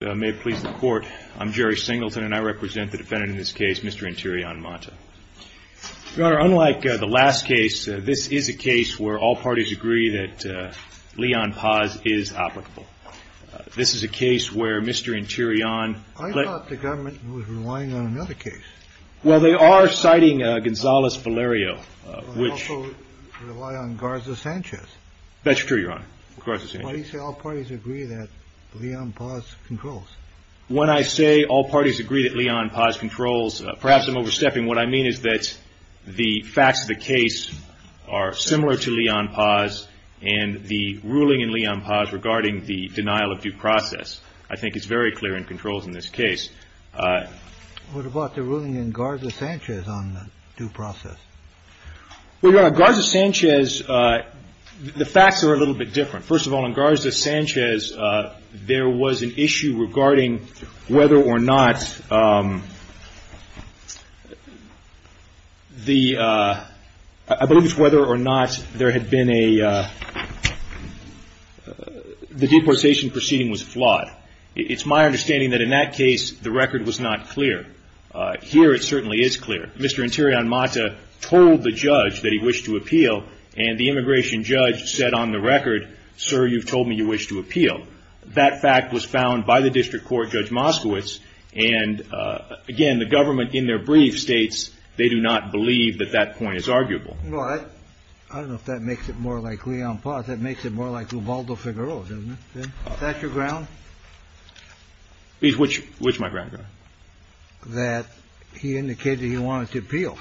May it please the court, I'm Jerry Singleton, and I represent the defendant in this case, Mr. Interian-Mata. Your Honor, unlike the last case, this is a case where all parties agree that Leon Paz is applicable. This is a case where Mr. Interian- I thought the government was relying on another case. Well, they are citing Gonzales-Valerio, which- They also rely on Garza-Sanchez. That's true, Your Honor, Garza-Sanchez. Why do you say all parties agree that Leon Paz controls? When I say all parties agree that Leon Paz controls, perhaps I'm overstepping. What I mean is that the facts of the case are similar to Leon Paz, and the ruling in Leon Paz regarding the denial of due process I think is very clear and controls in this case. What about the ruling in Garza-Sanchez on due process? Well, Your Honor, Garza-Sanchez, the facts are a little bit different. First of all, in Garza-Sanchez, there was an issue regarding whether or not the- I believe it's whether or not there had been a- the deportation proceeding was flawed. It's my understanding that in that case the record was not clear. Here it certainly is clear. Mr. Interior and Mata told the judge that he wished to appeal, and the immigration judge said on the record, sir, you've told me you wish to appeal. That fact was found by the district court, Judge Moskowitz. And, again, the government in their brief states they do not believe that that point is arguable. Well, I don't know if that makes it more like Leon Paz. That makes it more like Luvaldo Figueroa, doesn't it? Is that your ground? Which is my ground, Your Honor? That he indicated he wanted to appeal.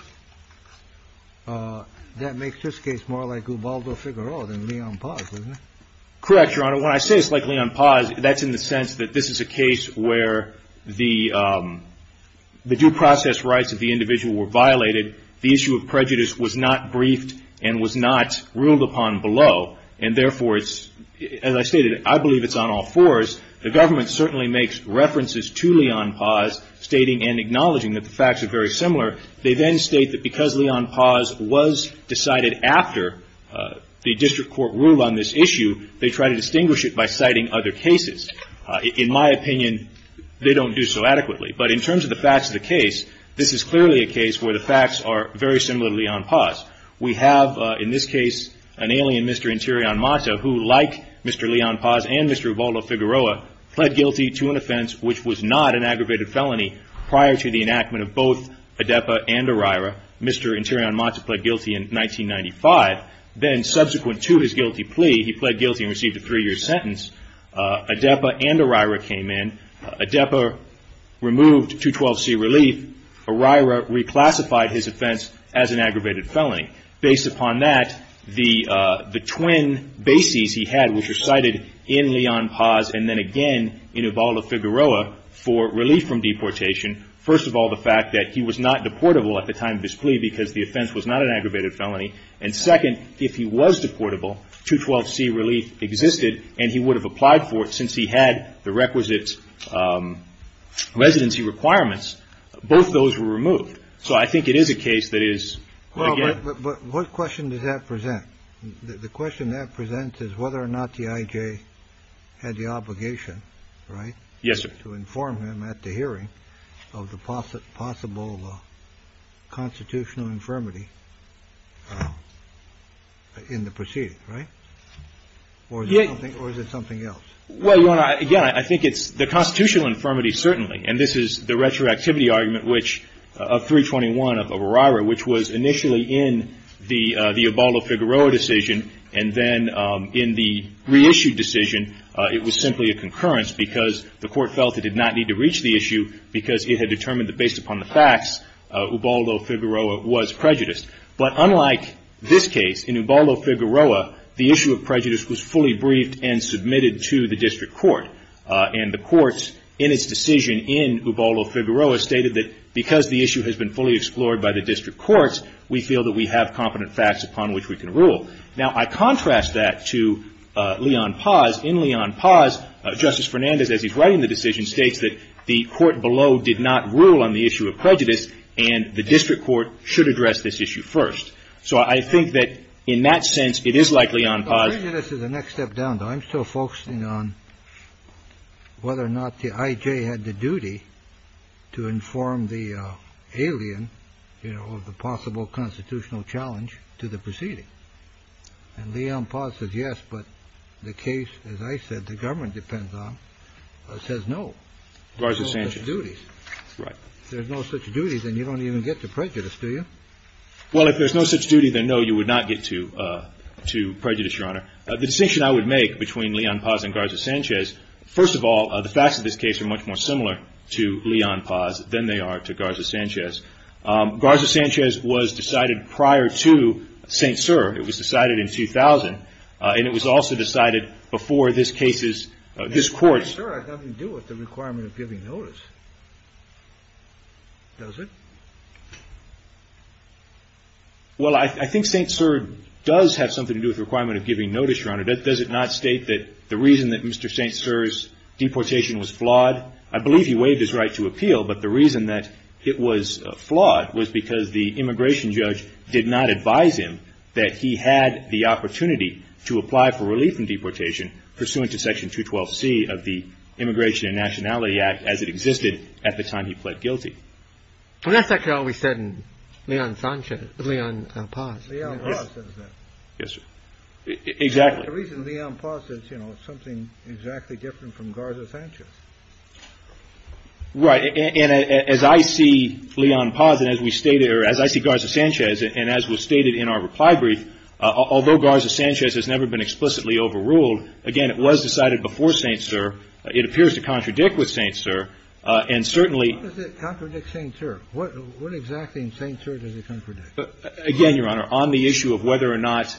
That makes this case more like Luvaldo Figueroa than Leon Paz, doesn't it? Correct, Your Honor. When I say it's like Leon Paz, that's in the sense that this is a case where the due process rights of the individual were violated. The issue of prejudice was not briefed and was not ruled upon below. And, therefore, as I stated, I believe it's on all fours. The government certainly makes references to Leon Paz, stating and acknowledging that the facts are very similar. They then state that because Leon Paz was decided after the district court ruled on this issue, they try to distinguish it by citing other cases. In my opinion, they don't do so adequately. But in terms of the facts of the case, this is clearly a case where the facts are very similar to Leon Paz. We have, in this case, an alien, Mr. Interion Mata, who, like Mr. Leon Paz and Mr. Luvaldo Figueroa, pled guilty to an offense which was not an aggravated felony prior to the enactment of both ADEPA and ORIRA. Mr. Interion Mata pled guilty in 1995. Then, subsequent to his guilty plea, he pled guilty and received a three-year sentence. ADEPA and ORIRA came in. ADEPA removed 212C relief. ORIRA reclassified his offense as an aggravated felony. Based upon that, the twin bases he had, which are cited in Leon Paz and then again in Luvaldo Figueroa, for relief from deportation. First of all, the fact that he was not deportable at the time of his plea because the offense was not an aggravated felony. And second, if he was deportable, 212C relief existed and he would have applied for it since he had the requisite residency requirements. Both those were removed. So I think it is a case that is, again. But what question does that present? The question that presents is whether or not the IJ had the obligation, right? Yes, sir. To inform him at the hearing of the possible constitutional infirmity in the proceeding, right? Or is it something else? Well, again, I think it's the constitutional infirmity certainly. And this is the retroactivity argument of 321 of ORIRA, which was initially in the Luvaldo Figueroa decision. And then in the reissued decision, it was simply a concurrence because the court felt it did not need to reach the issue because it had determined that based upon the facts, Luvaldo Figueroa was prejudiced. But unlike this case, in Luvaldo Figueroa, the issue of prejudice was fully briefed and submitted to the district court. And the courts in its decision in Luvaldo Figueroa stated that because the issue has been fully explored by the district courts, we feel that we have competent facts upon which we can rule. Now, I contrast that to Leon Paz. In Leon Paz, Justice Fernandez, as he's writing the decision, states that the court below did not rule on the issue of prejudice and the district court should address this issue first. So I think that in that sense, it is like Leon Paz. Prejudice is the next step down. I'm still focusing on whether or not the I.J. had the duty to inform the alien of the possible constitutional challenge to the proceeding. And Leon Paz says yes, but the case, as I said, the government depends on, says no. No such duties. Right. If there's no such duty, then you don't even get to prejudice, do you? Well, if there's no such duty, then no, you would not get to prejudice, Your Honor. The distinction I would make between Leon Paz and Garza Sanchez, first of all, the facts of this case are much more similar to Leon Paz than they are to Garza Sanchez. Garza Sanchez was decided prior to St. Sir. It was decided in 2000, and it was also decided before this case's, this court's. Well, St. Sir has nothing to do with the requirement of giving notice, does it? Well, I think St. Sir does have something to do with the requirement of giving notice, Your Honor. Does it not state that the reason that Mr. St. Sir's deportation was flawed? I believe he waived his right to appeal, but the reason that it was flawed was because the immigration judge did not advise him that he had the opportunity to apply for relief from deportation pursuant to Section 212C of the Immigration and Nationality Act as it existed at the time he pled guilty. Well, that's actually all we said in Leon Sanchez, Leon Paz. Leon Paz says that. Yes, sir. Exactly. The reason Leon Paz says, you know, it's something exactly different from Garza Sanchez. Right, and as I see Leon Paz, and as we stated, or as I see Garza Sanchez, and as was stated in our reply brief, although Garza Sanchez has never been explicitly overruled, again, it was decided before St. Sir. It appears to contradict with St. Sir, and certainly How does it contradict St. Sir? Again, Your Honor, on the issue of whether or not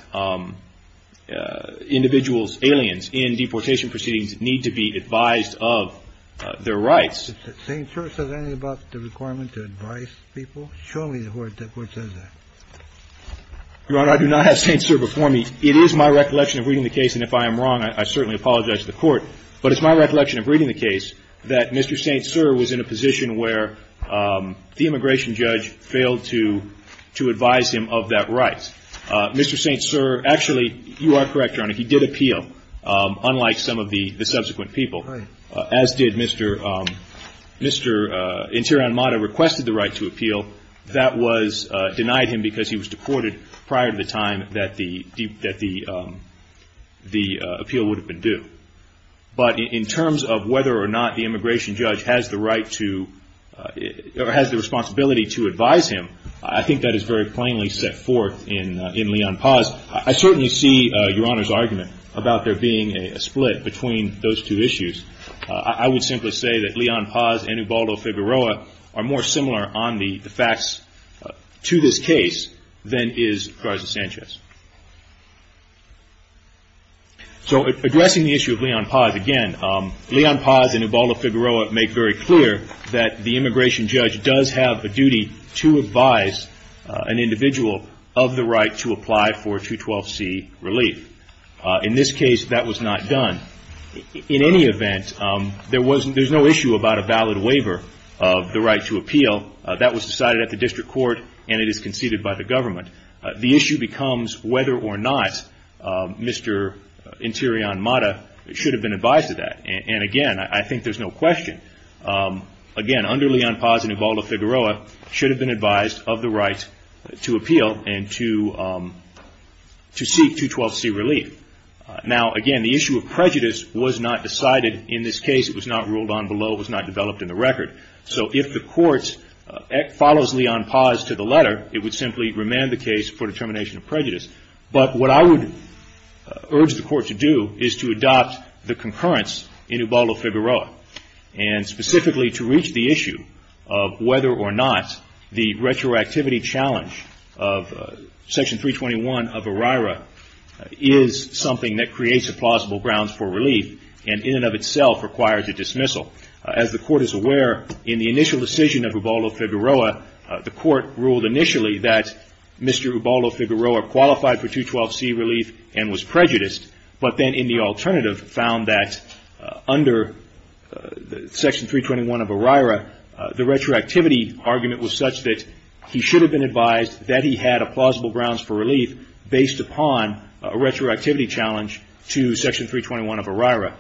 individuals, aliens, in deportation proceedings need to be advised of their rights. Did St. Sir say anything about the requirement to advise people? Show me where the Court says that. Your Honor, I do not have St. Sir before me. It is my recollection of reading the case, and if I am wrong, I certainly apologize to the Court, but it's my recollection of reading the case that Mr. St. Sir was in a position where the immigration judge failed to advise him of that right. Mr. St. Sir, actually, you are correct, Your Honor, he did appeal, unlike some of the subsequent people, as did Mr. Interior and Mater requested the right to appeal. That was denied him because he was deported prior to the time that the appeal would have been due. But in terms of whether or not the immigration judge has the responsibility to advise him, I think that is very plainly set forth in Leon Paz. I certainly see Your Honor's argument about there being a split between those two issues. I would simply say that Leon Paz and Ubaldo Figueroa are more similar on the facts to this case than is Garza Sanchez. So addressing the issue of Leon Paz again, Leon Paz and Ubaldo Figueroa make very clear that the immigration judge does have a duty to advise an individual of the right to apply for 212C relief. In this case, that was not done. In any event, there is no issue about a valid waiver of the right to appeal. That was decided at the district court, and it is conceded by the government. The issue becomes whether or not Mr. Interion Mater should have been advised of that. And again, I think there is no question. Again, under Leon Paz and Ubaldo Figueroa, he should have been advised of the right to appeal and to seek 212C relief. Now again, the issue of prejudice was not decided in this case. It was not ruled on below. It was not developed in the record. So if the court follows Leon Paz to the letter, it would simply remand the case for determination of prejudice. But what I would urge the court to do is to adopt the concurrence in Ubaldo Figueroa, and specifically to reach the issue of whether or not the retroactivity challenge of Section 321 of ORIRA is something that creates a plausible grounds for relief and in and of itself requires a dismissal. As the court is aware, in the initial decision of Ubaldo Figueroa, the court ruled initially that Mr. Ubaldo Figueroa qualified for 212C relief and was prejudiced, but then in the alternative found that under Section 321 of ORIRA, the retroactivity argument was such that he should have been advised that he had a plausible grounds for relief based upon a retroactivity challenge to Section 321 of ORIRA.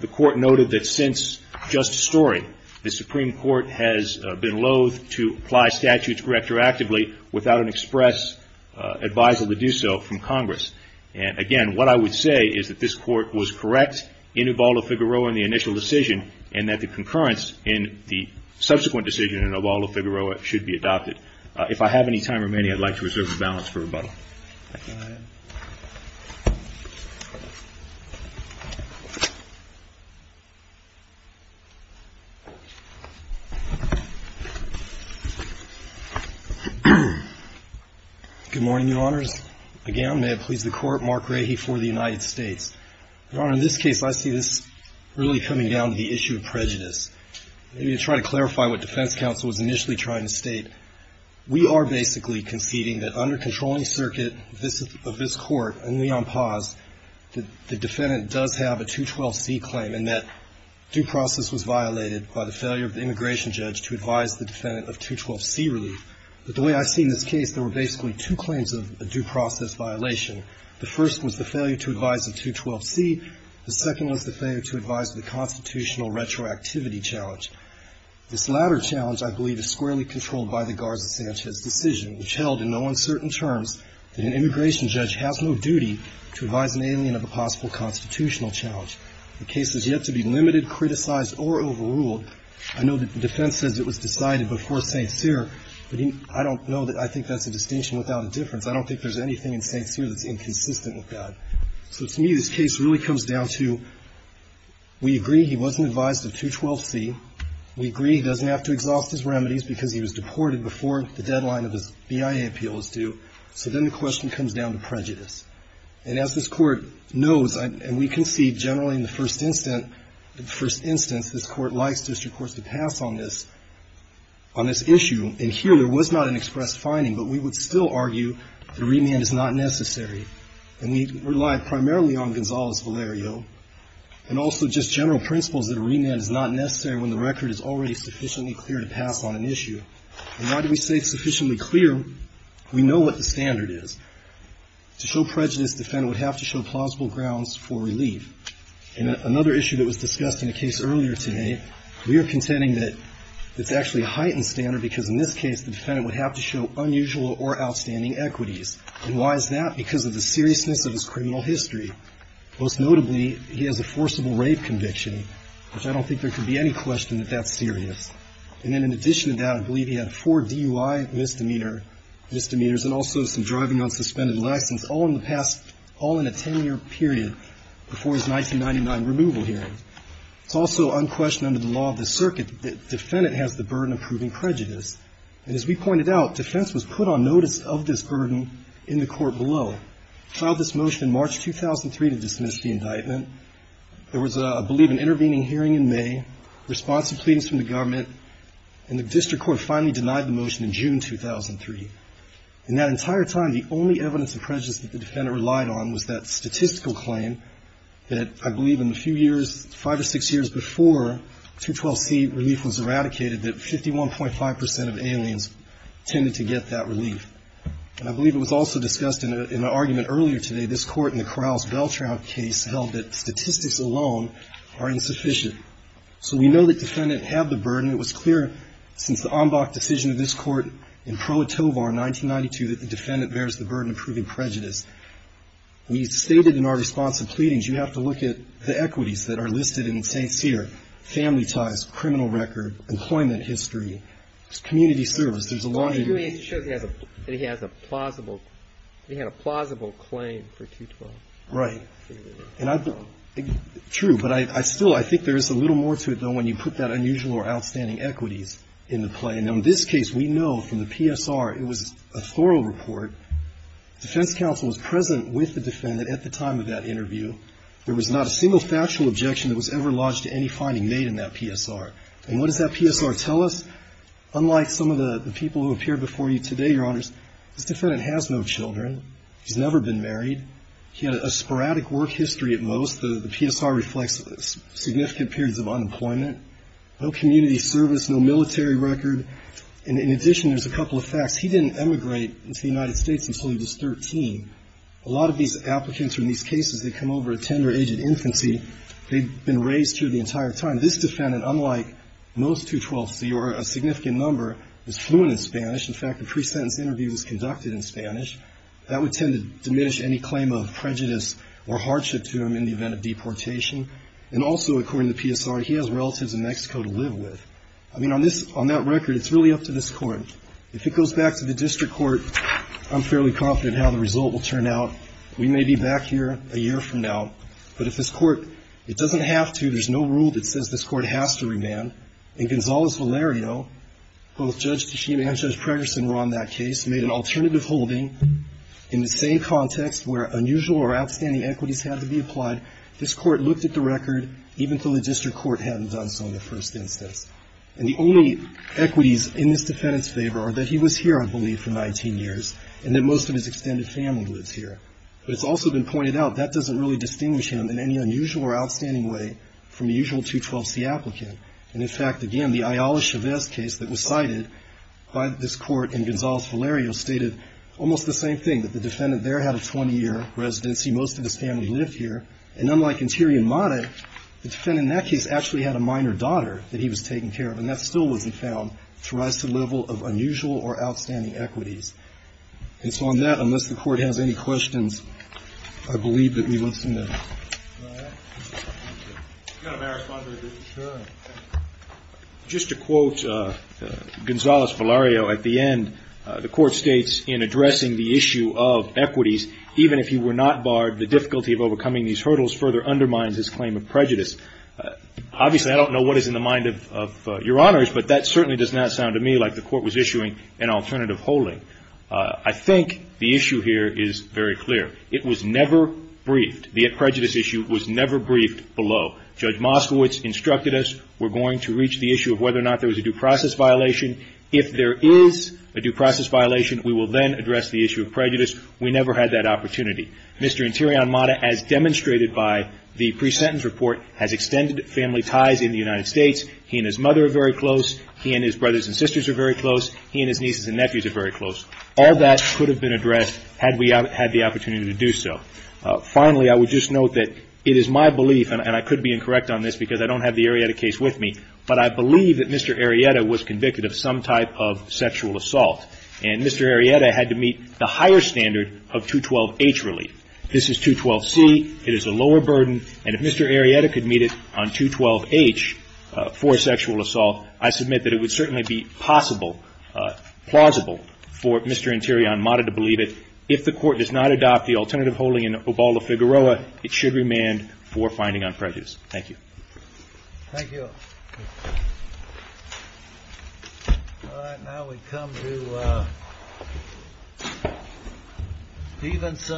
The court noted that since justice story, the Supreme Court has been loath to apply statutes retroactively without an express advisal to do so from Congress. And again, what I would say is that this court was correct in Ubaldo Figueroa in the initial decision and that the concurrence in the subsequent decision in Ubaldo Figueroa should be adopted. If I have any time remaining, I'd like to reserve the balance for rebuttal. Go ahead. Good morning, Your Honors. Again, may it please the Court, Mark Rahe for the United States. Your Honor, in this case, I see this really coming down to the issue of prejudice. Let me try to clarify what defense counsel was initially trying to state. We are basically conceding that under controlling circuit of this Court and Leon Paz, the defendant does have a 212C claim and that due process was violated by the failure of the immigration judge to advise the defendant of 212C relief. But the way I see this case, there were basically two claims of a due process violation. The first was the failure to advise of 212C. The second was the failure to advise of the constitutional retroactivity challenge. This latter challenge, I believe, is squarely controlled by the Garza-Sanchez decision, which held in no uncertain terms that an immigration judge has no duty to advise an alien of a possible constitutional challenge. The case is yet to be limited, criticized, or overruled. I know that the defense says it was decided before St. Cyr, but I don't know that I think that's a distinction without a difference. I don't think there's anything in St. Cyr that's inconsistent with that. So to me, this case really comes down to we agree he wasn't advised of 212C. We agree he doesn't have to exhaust his remedies because he was deported before the deadline of his BIA appeal is due. So then the question comes down to prejudice. And as this Court knows, and we can see generally in the first instance, this Court likes to, of course, to pass on this issue. And here there was not an expressed finding, but we would still argue that a remand is not necessary. And we relied primarily on Gonzales-Valerio and also just general principles that a remand is not necessary when the record is already sufficiently clear to pass on an issue. And why do we say sufficiently clear? We know what the standard is. To show prejudice, the defendant would have to show plausible grounds for relief. In another issue that was discussed in the case earlier today, we are contending that it's actually a heightened standard because in this case the defendant would have to show unusual or outstanding equities. And why is that? Because of the seriousness of his criminal history. Most notably, he has a forcible rape conviction, which I don't think there could be any question that that's serious. And then in addition to that, I believe he had four DUI misdemeanors and also some driving on suspended license, all in the past, all in a 10-year period before his 1999 removal hearing. It's also unquestioned under the law of the circuit that the defendant has the burden of proving prejudice. And as we pointed out, defense was put on notice of this burden in the Court below. The District Court filed this motion in March 2003 to dismiss the indictment. There was, I believe, an intervening hearing in May, responsive pleadings from the government, and the District Court finally denied the motion in June 2003. In that entire time, the only evidence of prejudice that the defendant relied on was that statistical claim that I believe in the few years, five or six years before 212C relief was eradicated, that 51.5 percent of aliens tended to get that relief. And I believe it was also discussed in an argument earlier today, this Court in the Krauss-Beltraud case held that statistics alone are insufficient. So we know the defendant had the burden. It was clear since the Ombach decision of this Court in Pro Tovar in 1992 that the defendant bears the burden of proving prejudice. We stated in our responsive pleadings you have to look at the equities that are listed in St. Cyr, family ties, criminal record, employment history, community service. There's a lot of your --- But the U.S. shows that he has a plausible claim for 212. Right. True. But I still, I think there's a little more to it, though, when you put that unusual or outstanding equities into play. And in this case, we know from the PSR, it was a thorough report. Defense counsel was present with the defendant at the time of that interview. There was not a single factual objection that was ever lodged to any finding made in that PSR. And what does that PSR tell us? Unlike some of the people who appeared before you today, Your Honors, this defendant has no children. He's never been married. He had a sporadic work history at most. The PSR reflects significant periods of unemployment. No community service, no military record. And in addition, there's a couple of facts. He didn't emigrate into the United States until he was 13. A lot of these applicants from these cases, they come over a tender age of infancy. They've been raised here the entire time. And this defendant, unlike most 212C, or a significant number, is fluent in Spanish. In fact, a pre-sentence interview was conducted in Spanish. That would tend to diminish any claim of prejudice or hardship to him in the event of deportation. And also, according to the PSR, he has relatives in Mexico to live with. I mean, on that record, it's really up to this Court. If it goes back to the district court, I'm fairly confident how the result will turn We may be back here a year from now. But if this Court, it doesn't have to. There's no rule that says this Court has to remand. In Gonzales-Valerio, both Judge Tachibana and Judge Pregerson were on that case, made an alternative holding. In the same context where unusual or outstanding equities had to be applied, this Court looked at the record even though the district court hadn't done so in the first instance. And the only equities in this defendant's favor are that he was here, I believe, for 19 years, and that most of his extended family lives here. But it's also been pointed out, that doesn't really distinguish him in any unusual or outstanding way from the usual 212C applicant. And, in fact, again, the Ayala-Chavez case that was cited by this Court in Gonzales-Valerio stated almost the same thing, that the defendant there had a 20-year residency. Most of his family lived here. And unlike Interior Mata, the defendant in that case actually had a minor daughter that he was taking care of, and that still wasn't found to rise to the level of unusual or outstanding equities. And so on that, unless the Court has any questions, I believe that we listen to them. All right. Thank you. You've got a better response than this. Sure. Just to quote Gonzales-Valerio at the end, the Court states, in addressing the issue of equities, even if he were not barred, the difficulty of overcoming these hurdles further undermines his claim of prejudice. Obviously, I don't know what is in the mind of Your Honors, but that certainly does not sound to me like the Court was issuing an alternative holding. I think the issue here is very clear. It was never briefed. The prejudice issue was never briefed below. Judge Moskowitz instructed us we're going to reach the issue of whether or not there was a due process violation. If there is a due process violation, we will then address the issue of prejudice. We never had that opportunity. Mr. Interior Mata, as demonstrated by the pre-sentence report, has extended family ties in the United States. He and his mother are very close. He and his brothers and sisters are very close. He and his nieces and nephews are very close. All that could have been addressed had we had the opportunity to do so. Finally, I would just note that it is my belief, and I could be incorrect on this because I don't have the Arrieta case with me, but I believe that Mr. Arrieta was convicted of some type of sexual assault, and Mr. Arrieta had to meet the higher standard of 212-H relief. This is 212-C. It is a lower burden, and if Mr. Arrieta could meet it on 212-H for sexual assault, I submit that it would certainly be possible, plausible, for Mr. Interior Mata to believe it. If the Court does not adopt the alternative holding in Obaldo-Figueroa, it should remand for finding on prejudice. Thank you. Thank you. All right, now we come to Stevenson.